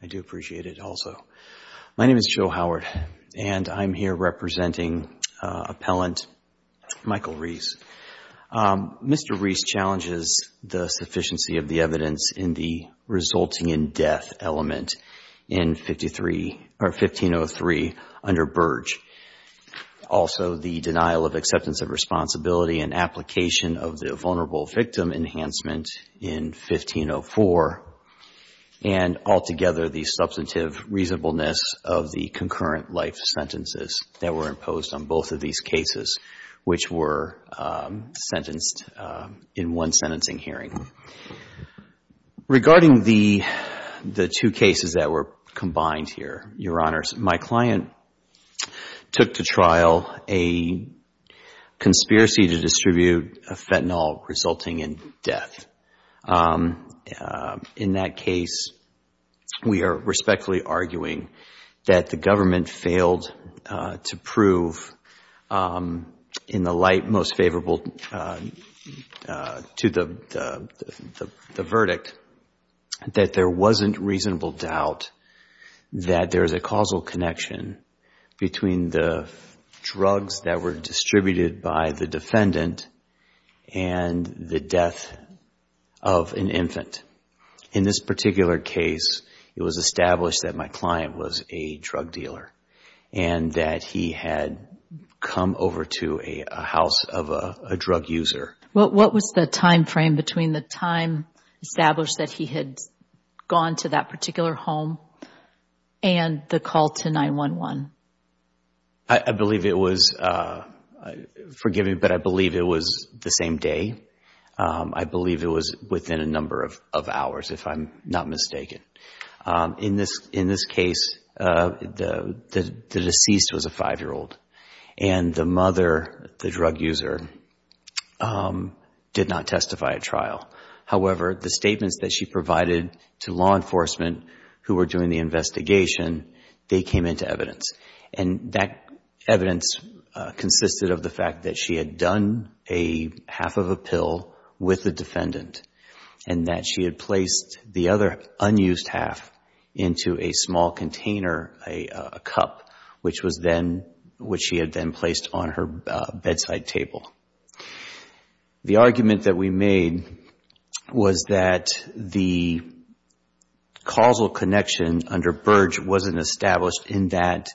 I do appreciate it also. My name is Joe Howard and I'm here representing appellant Michael Reis. Mr. Reis challenges the sufficiency of the evidence in the resulting in death element in 1503 under Burge. Also the denial of acceptance of responsibility and application of the altogether the substantive reasonableness of the concurrent life sentences that were imposed on both of these cases which were sentenced in one sentencing hearing. Regarding the two cases that were combined here, Your Honors, my client took to trial a conspiracy to distribute a fentanyl resulting in death. In that case, we are respectfully arguing that the government failed to prove in the light most favorable to the verdict that there wasn't reasonable doubt that there is a causal connection between the drugs that were distributed by the defendant and the death of an infant. In this particular case, it was established that my client was a drug dealer and that he had come over to a house of a drug user. What was the time frame between the time established that he had gone to that particular home and the call to 911? I believe it was, forgive me, but I believe it was the same day. I believe it was within a number of hours if I'm not mistaken. In this case, the deceased was a five-year-old and the mother, the drug user, did not testify at trial. However, the statements that she provided to law enforcement who were doing the investigation, they came into evidence. That evidence consisted of the fact that she had done a half of a pill with the defendant and that she had placed the other unused half into a small container, a cup, which she had then placed on her bedside table. The argument that we made was that the causal connection under Burge wasn't established in that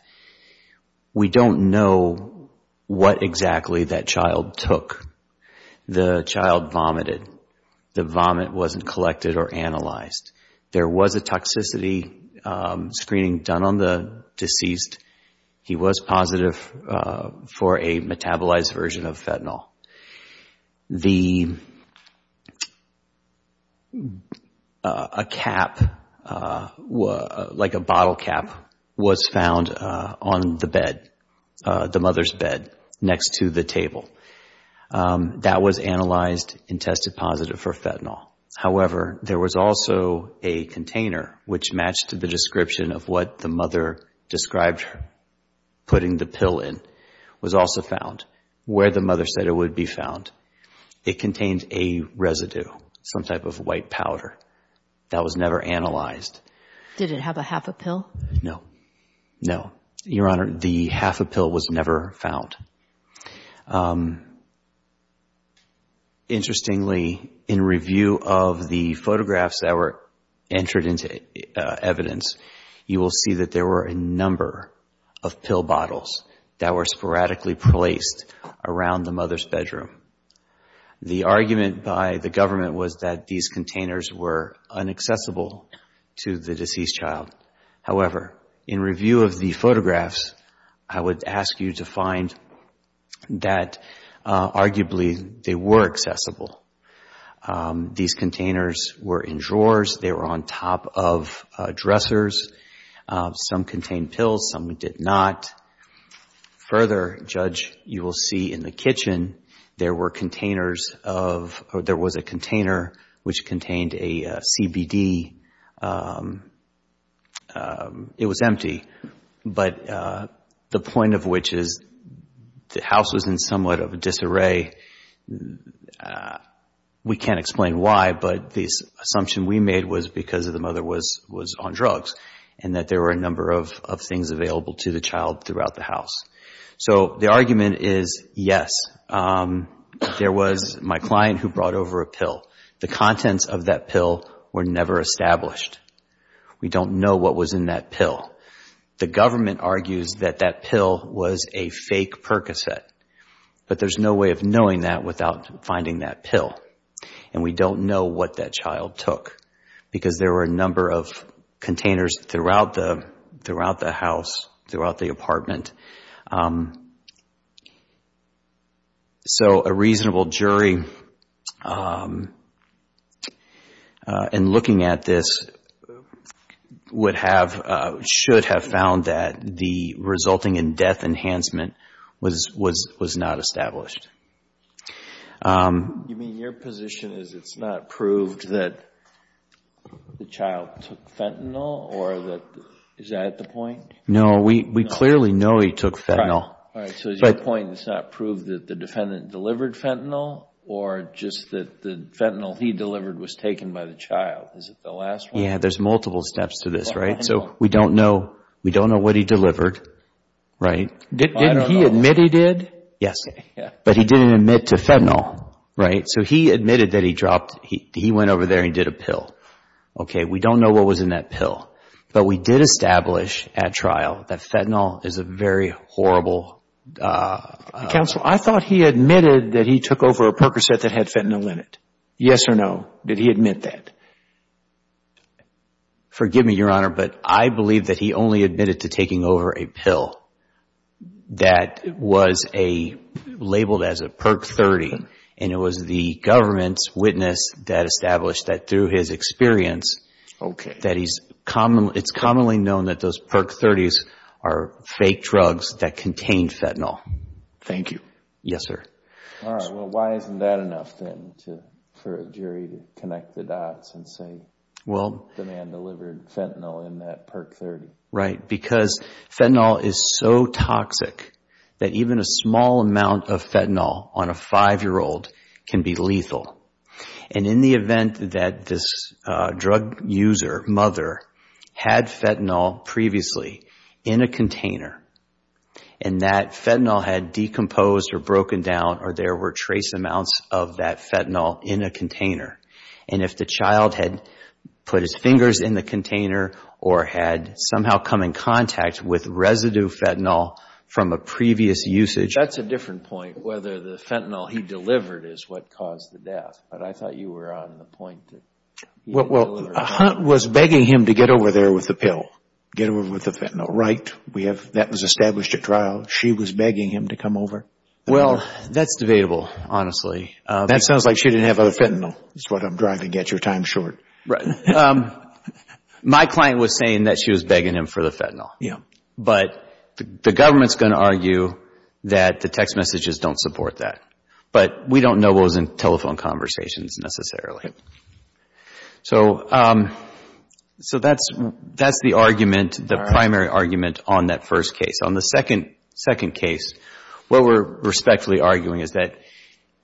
we don't know what exactly that child took. The child vomited. The vomit wasn't collected or analyzed. There was a toxicity screening done on the deceased. He was positive for a metabolized version of fentanyl. A cap, like a bottle cap, was found on the bed, the mother's bed, next to the table. That was analyzed and tested positive for fentanyl. However, there was also a container, which matched the description of what the mother described putting the pill in, was also found, where the mother said it would be found. It contained a residue, some type of white powder. That was never analyzed. Did it have a half a pill? No. No. Your Honor, the half a pill was never found. Interestingly, in review of the photographs that were entered into evidence, you will see that there were a number of pill bottles that were sporadically placed around the mother's bedroom. The argument by the government was that these containers were unaccessible to the deceased child. However, in review of the photographs, I would ask you to find that arguably they were accessible. These containers were in drawers. They were on top of dressers. Some contained pills. Some did not. Further, Judge, you will see in the kitchen, there were containers of, there was a container which contained a CBD. It was empty. The point of which is the house was in somewhat of a disarray. We can't explain why, but the assumption we made was because the mother was on drugs and that there were a number of things available to the child throughout the house. The argument is yes, there was my client who brought over a pill. The contents of that pill were never established. We don't know what was in that pill. The government argues that that pill was a fake Percocet, but there's no way of knowing that without finding that pill. We don't know what that child took because there were a number of containers throughout the house, throughout the apartment. A reasonable jury in looking at this would have, should have found that the resulting in death enhancement was not established. You mean your position is it's not proved that the child took fentanyl or that, is that the point? No, we clearly know he took fentanyl. All right, so your point is it's not proved that the defendant delivered fentanyl or just that the fentanyl he delivered was taken by the child. Is it the last one? Yeah, there's multiple steps to this, right? So we don't know, we don't know what he delivered, right? I don't know. Didn't he admit he did? Yes, but he didn't admit to fentanyl, right? So he admitted that he dropped, he went over there and did a pill. Okay, we don't know what was in that pill, but we did establish at trial that fentanyl is a very horrible... Counsel, I thought he admitted that he took over a Percocet that had fentanyl in it. Yes or no, did he admit that? Forgive me, Your Honor, but I believe that he only admitted to taking over a pill that was labeled as a Perc 30 and it was the government's witness that established that through his experience... Okay.... that it's commonly known that those Perc 30s are fake drugs that contain fentanyl. Thank you. Yes, sir. All right. Well, why isn't that enough then for a jury to connect the dots and say the man delivered fentanyl in that Perc 30? Right, because fentanyl is so toxic that even a small amount of fentanyl on a five-year-old can be lethal. And in the event that this drug user, mother, had fentanyl previously in a container and that fentanyl had decomposed or broken down or there were trace amounts of that fentanyl in a container, and if the child had put his fingers in the container or had somehow come in contact with residue fentanyl from a previous usage... He delivered is what caused the death, but I thought you were on the point that... Well, Hunt was begging him to get over there with the pill, get over with the fentanyl, right? We have... that was established at trial. She was begging him to come over. Well, that's debatable, honestly. That sounds like she didn't have the fentanyl is what I'm trying to get your time short. Right. My client was saying that she was begging him for the fentanyl. Yeah. But the government's going to argue that the text messages don't support that. But we don't know what was in telephone conversations, necessarily. So that's the argument, the primary argument on that first case. On the second case, what we're respectfully arguing is that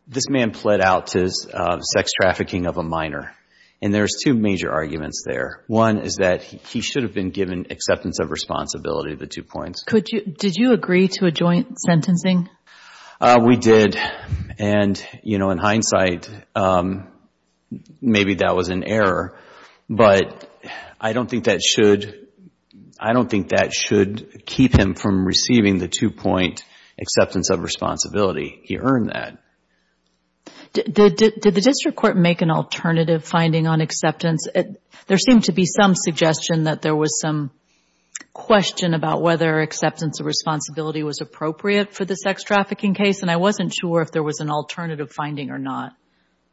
this man pled out to sex trafficking of a minor. And there's two major arguments there. One is that he should have been given acceptance of responsibility, the two points. Did you agree to a joint sentencing? We did. And, you know, in hindsight, maybe that was an error. But I don't think that should... I don't think that should keep him from receiving the two-point acceptance of responsibility. He earned that. Did the district court make an alternative finding on acceptance? There seemed to be some suggestion that there was some question about whether acceptance of responsibility was appropriate for the sex trafficking case. And I wasn't sure if there was an alternative finding or not.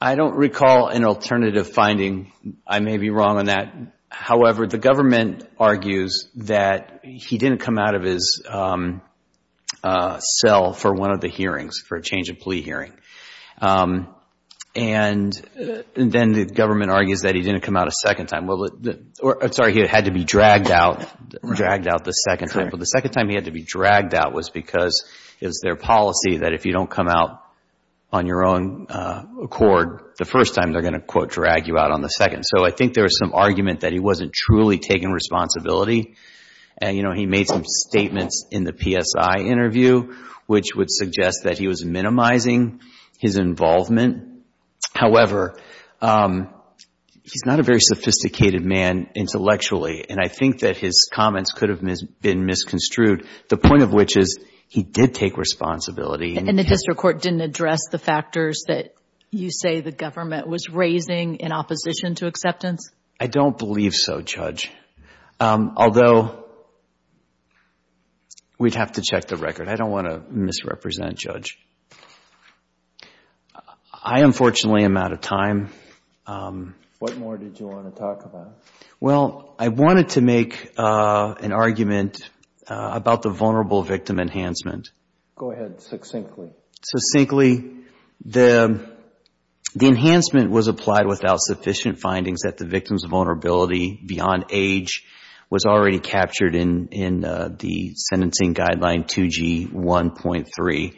I don't recall an alternative finding. I may be wrong on that. However, the government argues that he didn't come out of his cell for one of the hearings, for a change of plea hearing. And then the government argues that he didn't come out a second time. Sorry, he had to be dragged out the second time. But the second time he had to be dragged out was because it was their policy that if you don't come out on your own accord the first time, they're going to, quote, drag you out on the second. So I think there was some argument that he wasn't truly taking responsibility. And, you know, he made some statements in the PSI interview, which would suggest that he was minimizing his involvement. However, he's not a very sophisticated man intellectually. And I think that his comments could have been misconstrued. The point of which is he did take responsibility. And the district court didn't address the factors that you say the government was raising in opposition to acceptance? I don't believe so, Judge. Although, we'd have to check the record. I don't want to misrepresent, Judge. I, unfortunately, am out of time. What more did you want to talk about? Well, I wanted to make an argument about the vulnerable victim enhancement. Go ahead, succinctly. Succinctly. The enhancement was applied without sufficient findings that the victim's vulnerability beyond age was already captured in the sentencing guideline 2G1.3.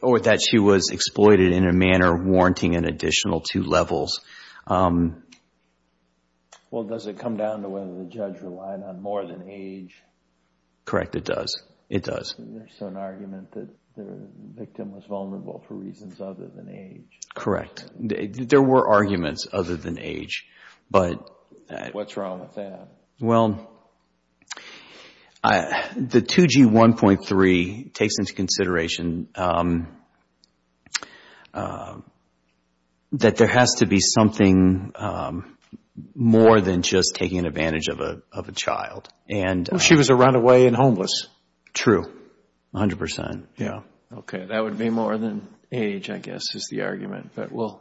Or that she was exploited in a manner warranting an additional two levels. Well, does it come down to whether the judge relied on more than age? Correct, it does. It does. There's an argument that the victim was vulnerable for reasons other than age. Correct. There were arguments other than age, but... What's wrong with that? Well, the 2G1.3 takes into consideration that there has to be something more than just taking advantage of a child. If she was a runaway and homeless? True, 100 percent. Yeah. Okay. That would be more than age, I guess, is the argument, but we'll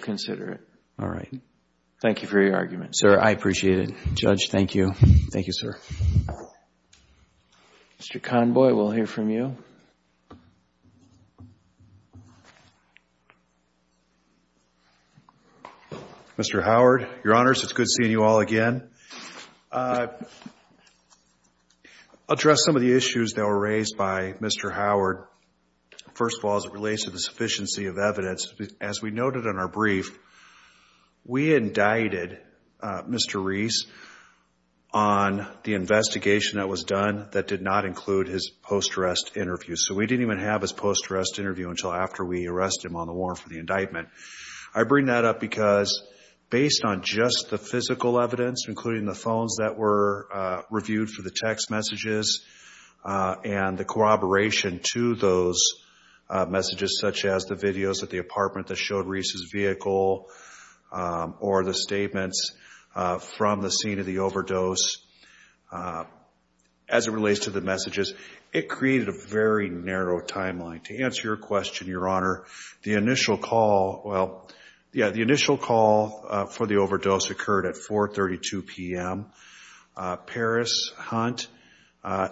consider it. All right. Thank you for your argument. Sir, I appreciate it. Judge, thank you. Thank you, sir. Mr. Conboy, we'll hear from you. Mr. Howard, Your Honors, it's good seeing you all again. I'll address some of the issues that were raised by Mr. Howard. First of all, as it relates to the sufficiency of evidence. As we noted in our brief, we indicted Mr. Reese on the investigation that was done that did not include his post-arrest interview. So we didn't even have his post-arrest interview until after we arrested him on the warrant for the indictment. I bring that up because based on just the physical evidence, including the phones that were reviewed for the text messages and the corroboration to those messages, such as the videos at the apartment that showed Reese's vehicle or the statements from the scene of the overdose, as it relates to the messages, it created a very narrow timeline. To answer your question, Your Honor, the initial call, well, yeah, the initial call for the overdose occurred at 4.32 p.m. Paris Hunt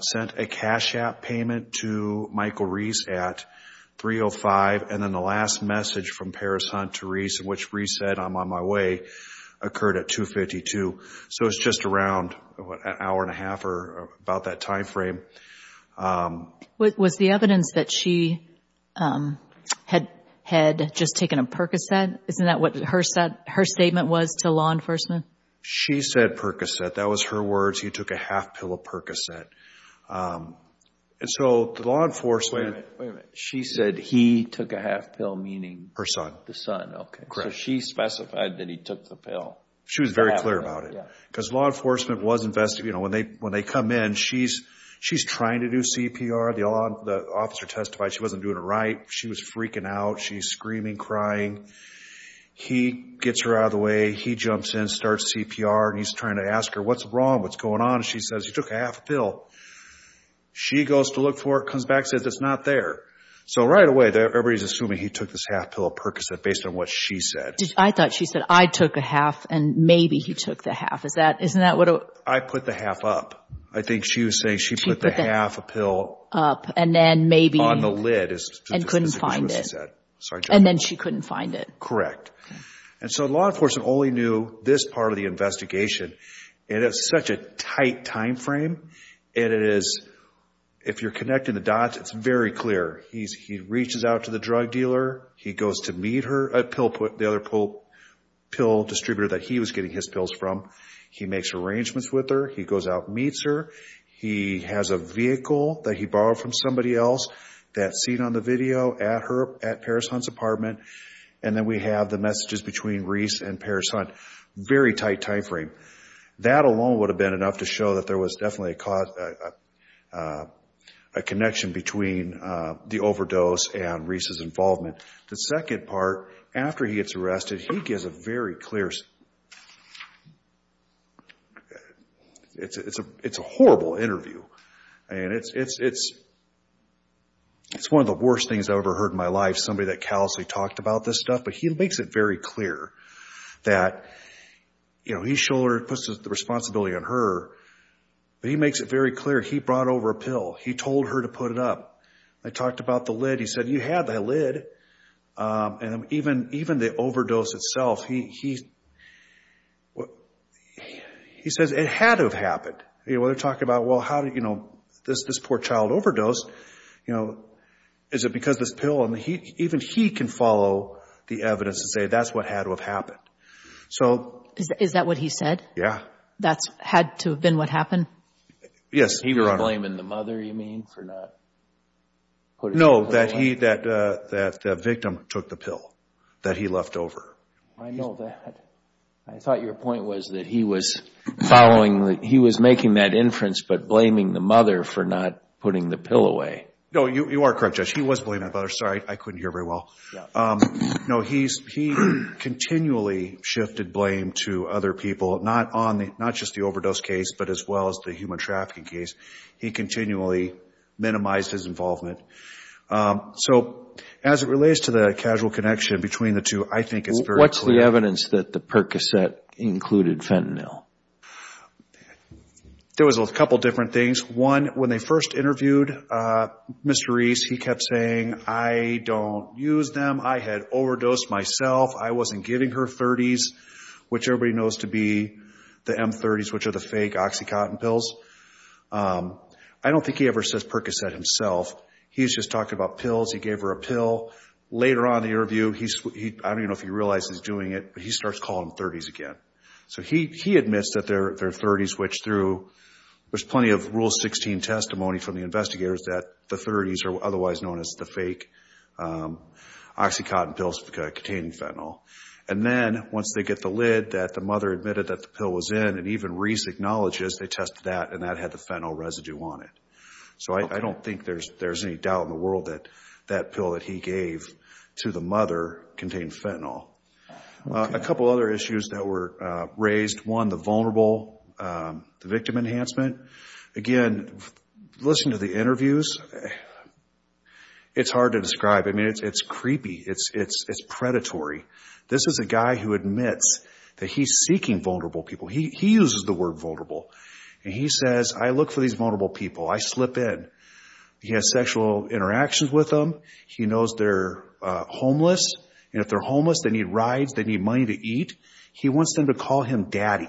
sent a cash app payment to Michael Reese at 3.05 p.m. and then the last message from Paris Hunt to Reese, which Reese said, I'm on my way, occurred at 2.52 p.m. So it's just around an hour and a half or about that time frame. Was the evidence that she had just taken a Percocet, isn't that what her statement was to law enforcement? She said Percocet. That was her words. He took a half pill of Percocet. And so the law enforcement... Wait a minute, wait a minute. She said he took a half pill, meaning... Her son. The son, okay. So she specified that he took the pill. She was very clear about it. Because law enforcement was invested, you know, when they come in, she's trying to do CPR. The officer testified she wasn't doing it right. She was freaking out. She's screaming, crying. He gets her out of the way. He jumps in, starts CPR, and he's trying to ask her, what's wrong, what's going on? And she says, he took a half pill. She goes to look for it, comes back, says it's not there. So right away, everybody's assuming he took this half pill of Percocet based on what she said. I thought she said, I took a half, and maybe he took the half. Is that, isn't that what... I put the half up. I think she was saying she put the half a pill... Up, and then maybe... On the lid, is just as specific as what she said. And then she couldn't find it. Correct. And so law enforcement only knew this part of the investigation. And it's such a tight time frame. And it is, if you're connecting the dots, it's very clear. He reaches out to the drug dealer. He goes to meet her, the other pill distributor that he was getting his pills from. He makes arrangements with her. He goes out, meets her. He has a vehicle that he borrowed from somebody else that's seen on the video at Paris Hunt's apartment. And then we have the messages between Reese and Paris Hunt. Very tight time frame. That alone would have been enough to show that there was definitely a connection between the overdose and Reese's involvement. The second part, after he gets arrested, he gives a very clear... It's a horrible interview. And it's one of the worst things I've ever heard in my life. Somebody that callously talked about this stuff, but he makes it very clear that, you know, he's shoulder puts the responsibility on her. But he makes it very clear. He brought over a pill. He told her to put it up. I talked about the lid. He said, you have the lid. And even the overdose itself, he says it had to have happened. You want to talk about, well, how did, you know, this poor child overdose, you know, is it because this pill? Even he can follow the evidence and say that's what had to have happened. So... Is that what he said? Yeah. That's had to have been what happened? Yes, Your Honor. He was blaming the mother, you mean, for not... No, that the victim took the pill that he left over. I know that. I thought your point was that he was following, he was making that inference, but blaming the mother for not putting the pill away. No, you are correct, Judge. He was blaming the mother. Sorry, I couldn't hear very well. No, he continually shifted blame to other people, not just the overdose case, but as well as the human trafficking case. He continually minimized his involvement. So as it relates to the casual connection between the two, I think it's very clear. What's the evidence that the Percocet included fentanyl? There was a couple of different things. One, when they first interviewed Mr. Reese, he kept saying, I don't use them. I had overdosed myself. I wasn't giving her 30s, which everybody knows to be the M30s, which are the fake OxyContin pills. I don't think he ever says Percocet himself. He's just talking about pills. He gave her a pill. Later on in the interview, I don't even know if he realizes he's doing it, but he starts calling them 30s again. So he admits that they're 30s, which through, there's plenty of Rule 16 testimony from the investigators that the 30s are otherwise known as the fake OxyContin pills containing fentanyl. And then once they get the lid that the mother admitted that the pill was in, and even Reese acknowledges they tested that, and that had the fentanyl residue on it. So I don't think there's any doubt in the world that that pill that he gave to the mother contained fentanyl. A couple other issues that were raised. One, the vulnerable, the victim enhancement. Again, listen to the interviews. It's hard to describe. I mean, it's creepy. It's predatory. This is a guy who admits that he's seeking vulnerable people. He uses the word vulnerable. And he says, I look for these vulnerable people. I slip in. He has sexual interactions with them. He knows they're homeless. And if they're homeless, they need rides. They need money to eat. He wants them to call him daddy.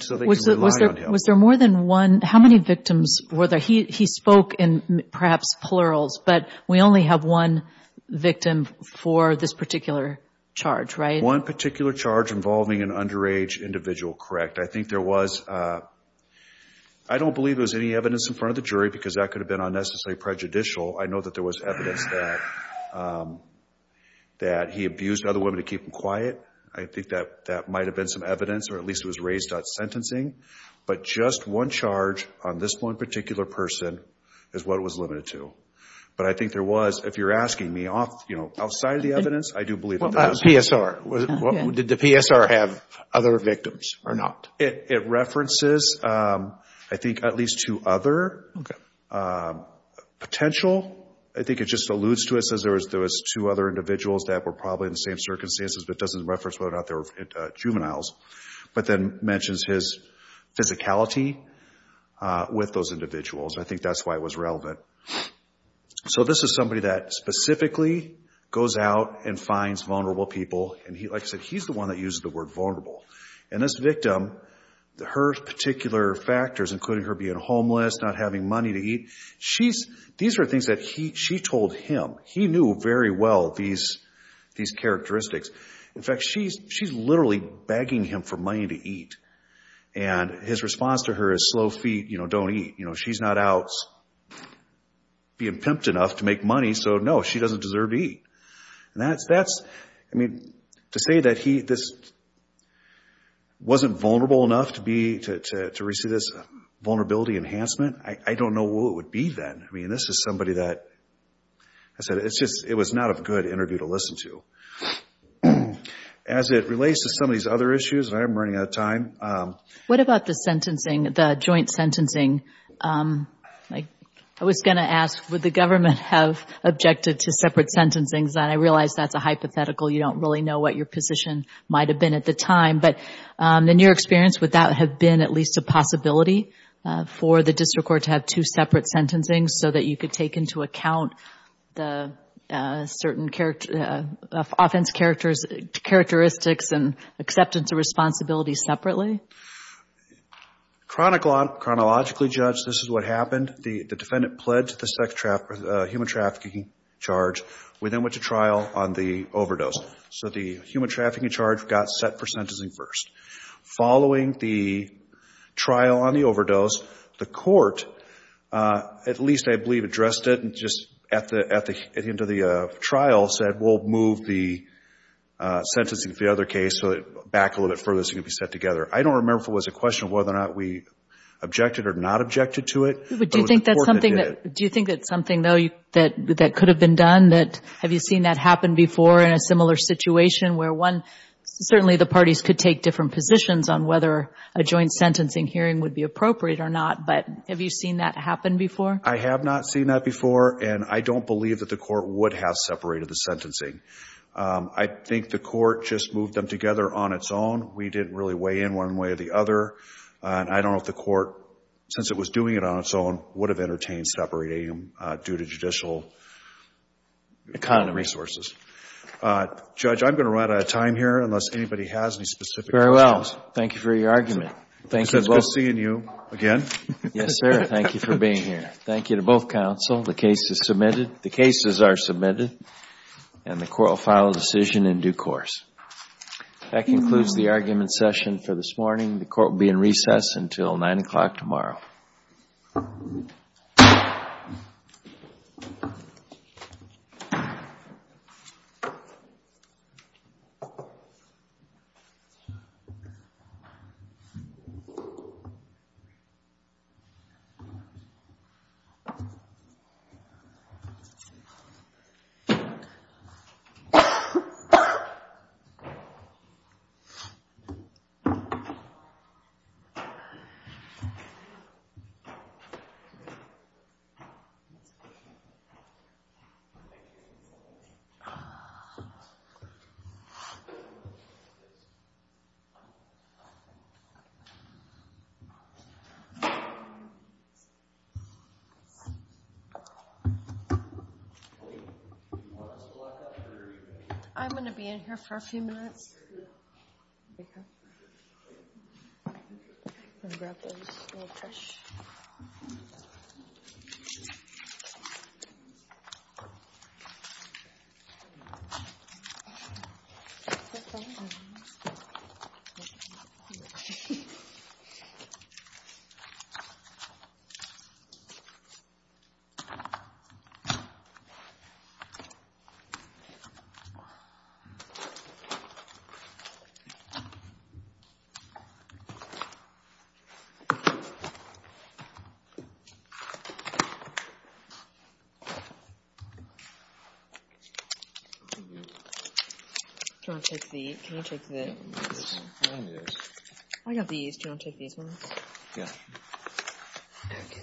So they can rely on him. Was there more than one? How many victims were there? He spoke in perhaps plurals, but we only have one victim for this particular charge, right? One particular charge involving an underage individual, correct. I think there was, I don't believe there was any evidence in front of the jury because that could have been unnecessarily prejudicial. I know that there was evidence that he abused other women to keep them quiet. I think that that might've been some evidence, or at least it was raised at sentencing. But just one charge on this one particular person is what it was limited to. But I think there was, if you're asking me outside of the evidence, I do believe that there was- PSR. Did the PSR have other victims or not? It references, I think, at least two other potential. I think it just alludes to it, says there was two other individuals that were probably in the same circumstances, but it doesn't reference whether or not they were juveniles, but then mentions his physicality with those individuals. I think that's why it was relevant. So this is somebody that specifically goes out and finds vulnerable people. And like I said, he's the one that uses the word vulnerable. And this victim, her particular factors, including her being homeless, not having money to eat, she's, these are things that she told him. He knew very well these characteristics. In fact, she's literally begging him for money to eat. And his response to her is slow feet, don't eat. She's not out being pimped enough to make money, so no, she doesn't deserve to eat. And that's, I mean, to say that he, this wasn't vulnerable enough to be, to receive this vulnerability enhancement, I don't know what it would be then. I mean, this is somebody that, I said, it's just, it was not a good interview to listen to. As it relates to some of these other issues, and I'm running out of time. What about the sentencing, the joint sentencing? I was gonna ask, would the government have objected to separate sentencings? And I realize that's a hypothetical. You don't really know what your position might have been at the time. But in your experience, would that have been at least a possibility for the district court to have two separate sentencings? So that you could take into account the certain offense characteristics and acceptance of responsibility separately? Chronologically, Judge, this is what happened. The defendant pledged the sex trafficking, human trafficking charge. We then went to trial on the overdose. So the human trafficking charge got set for sentencing first. Following the trial on the overdose, the court, at least I believe addressed it, and just at the end of the trial said, we'll move the sentencing for the other case so that back a little bit further so it can be set together. I don't remember if it was a question of whether or not we objected or not objected to it. But do you think that's something though that could have been done? That, have you seen that happen before in a similar situation where one, certainly the parties could take different positions on whether a joint sentencing hearing would be appropriate or not, but have you seen that happen before? I have not seen that before, and I don't believe that the court would have separated the sentencing. I think the court just moved them together on its own. We didn't really weigh in one way or the other. And I don't know if the court, since it was doing it on its own, would have entertained separating them due to judicial resources. Judge, I'm gonna run out of time here unless anybody has any specific questions. Very well, thank you for your argument. Thank you both. It's good seeing you again. Yes, sir, thank you for being here. Thank you to both counsel. The case is submitted. The cases are submitted, and the court will file a decision in due course. That concludes the argument session for this morning. The court will be in recess until nine o'clock tomorrow. Thank you. I'm gonna be in here for a few minutes. I'm gonna grab this little tissue. Tissue. Do you want to take these? Can you take these? I got these. Do you want to take these ones? Yeah. Okay. Thank you.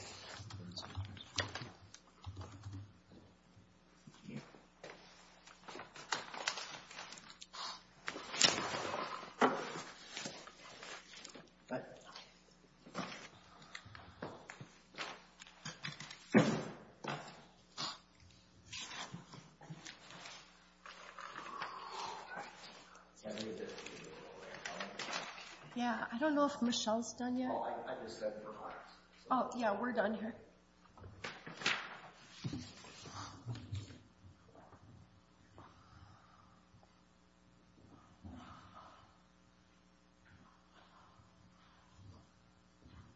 Yeah, I don't know if Michelle's done yet. Oh, I just said we're done. Oh, yeah, we're done here.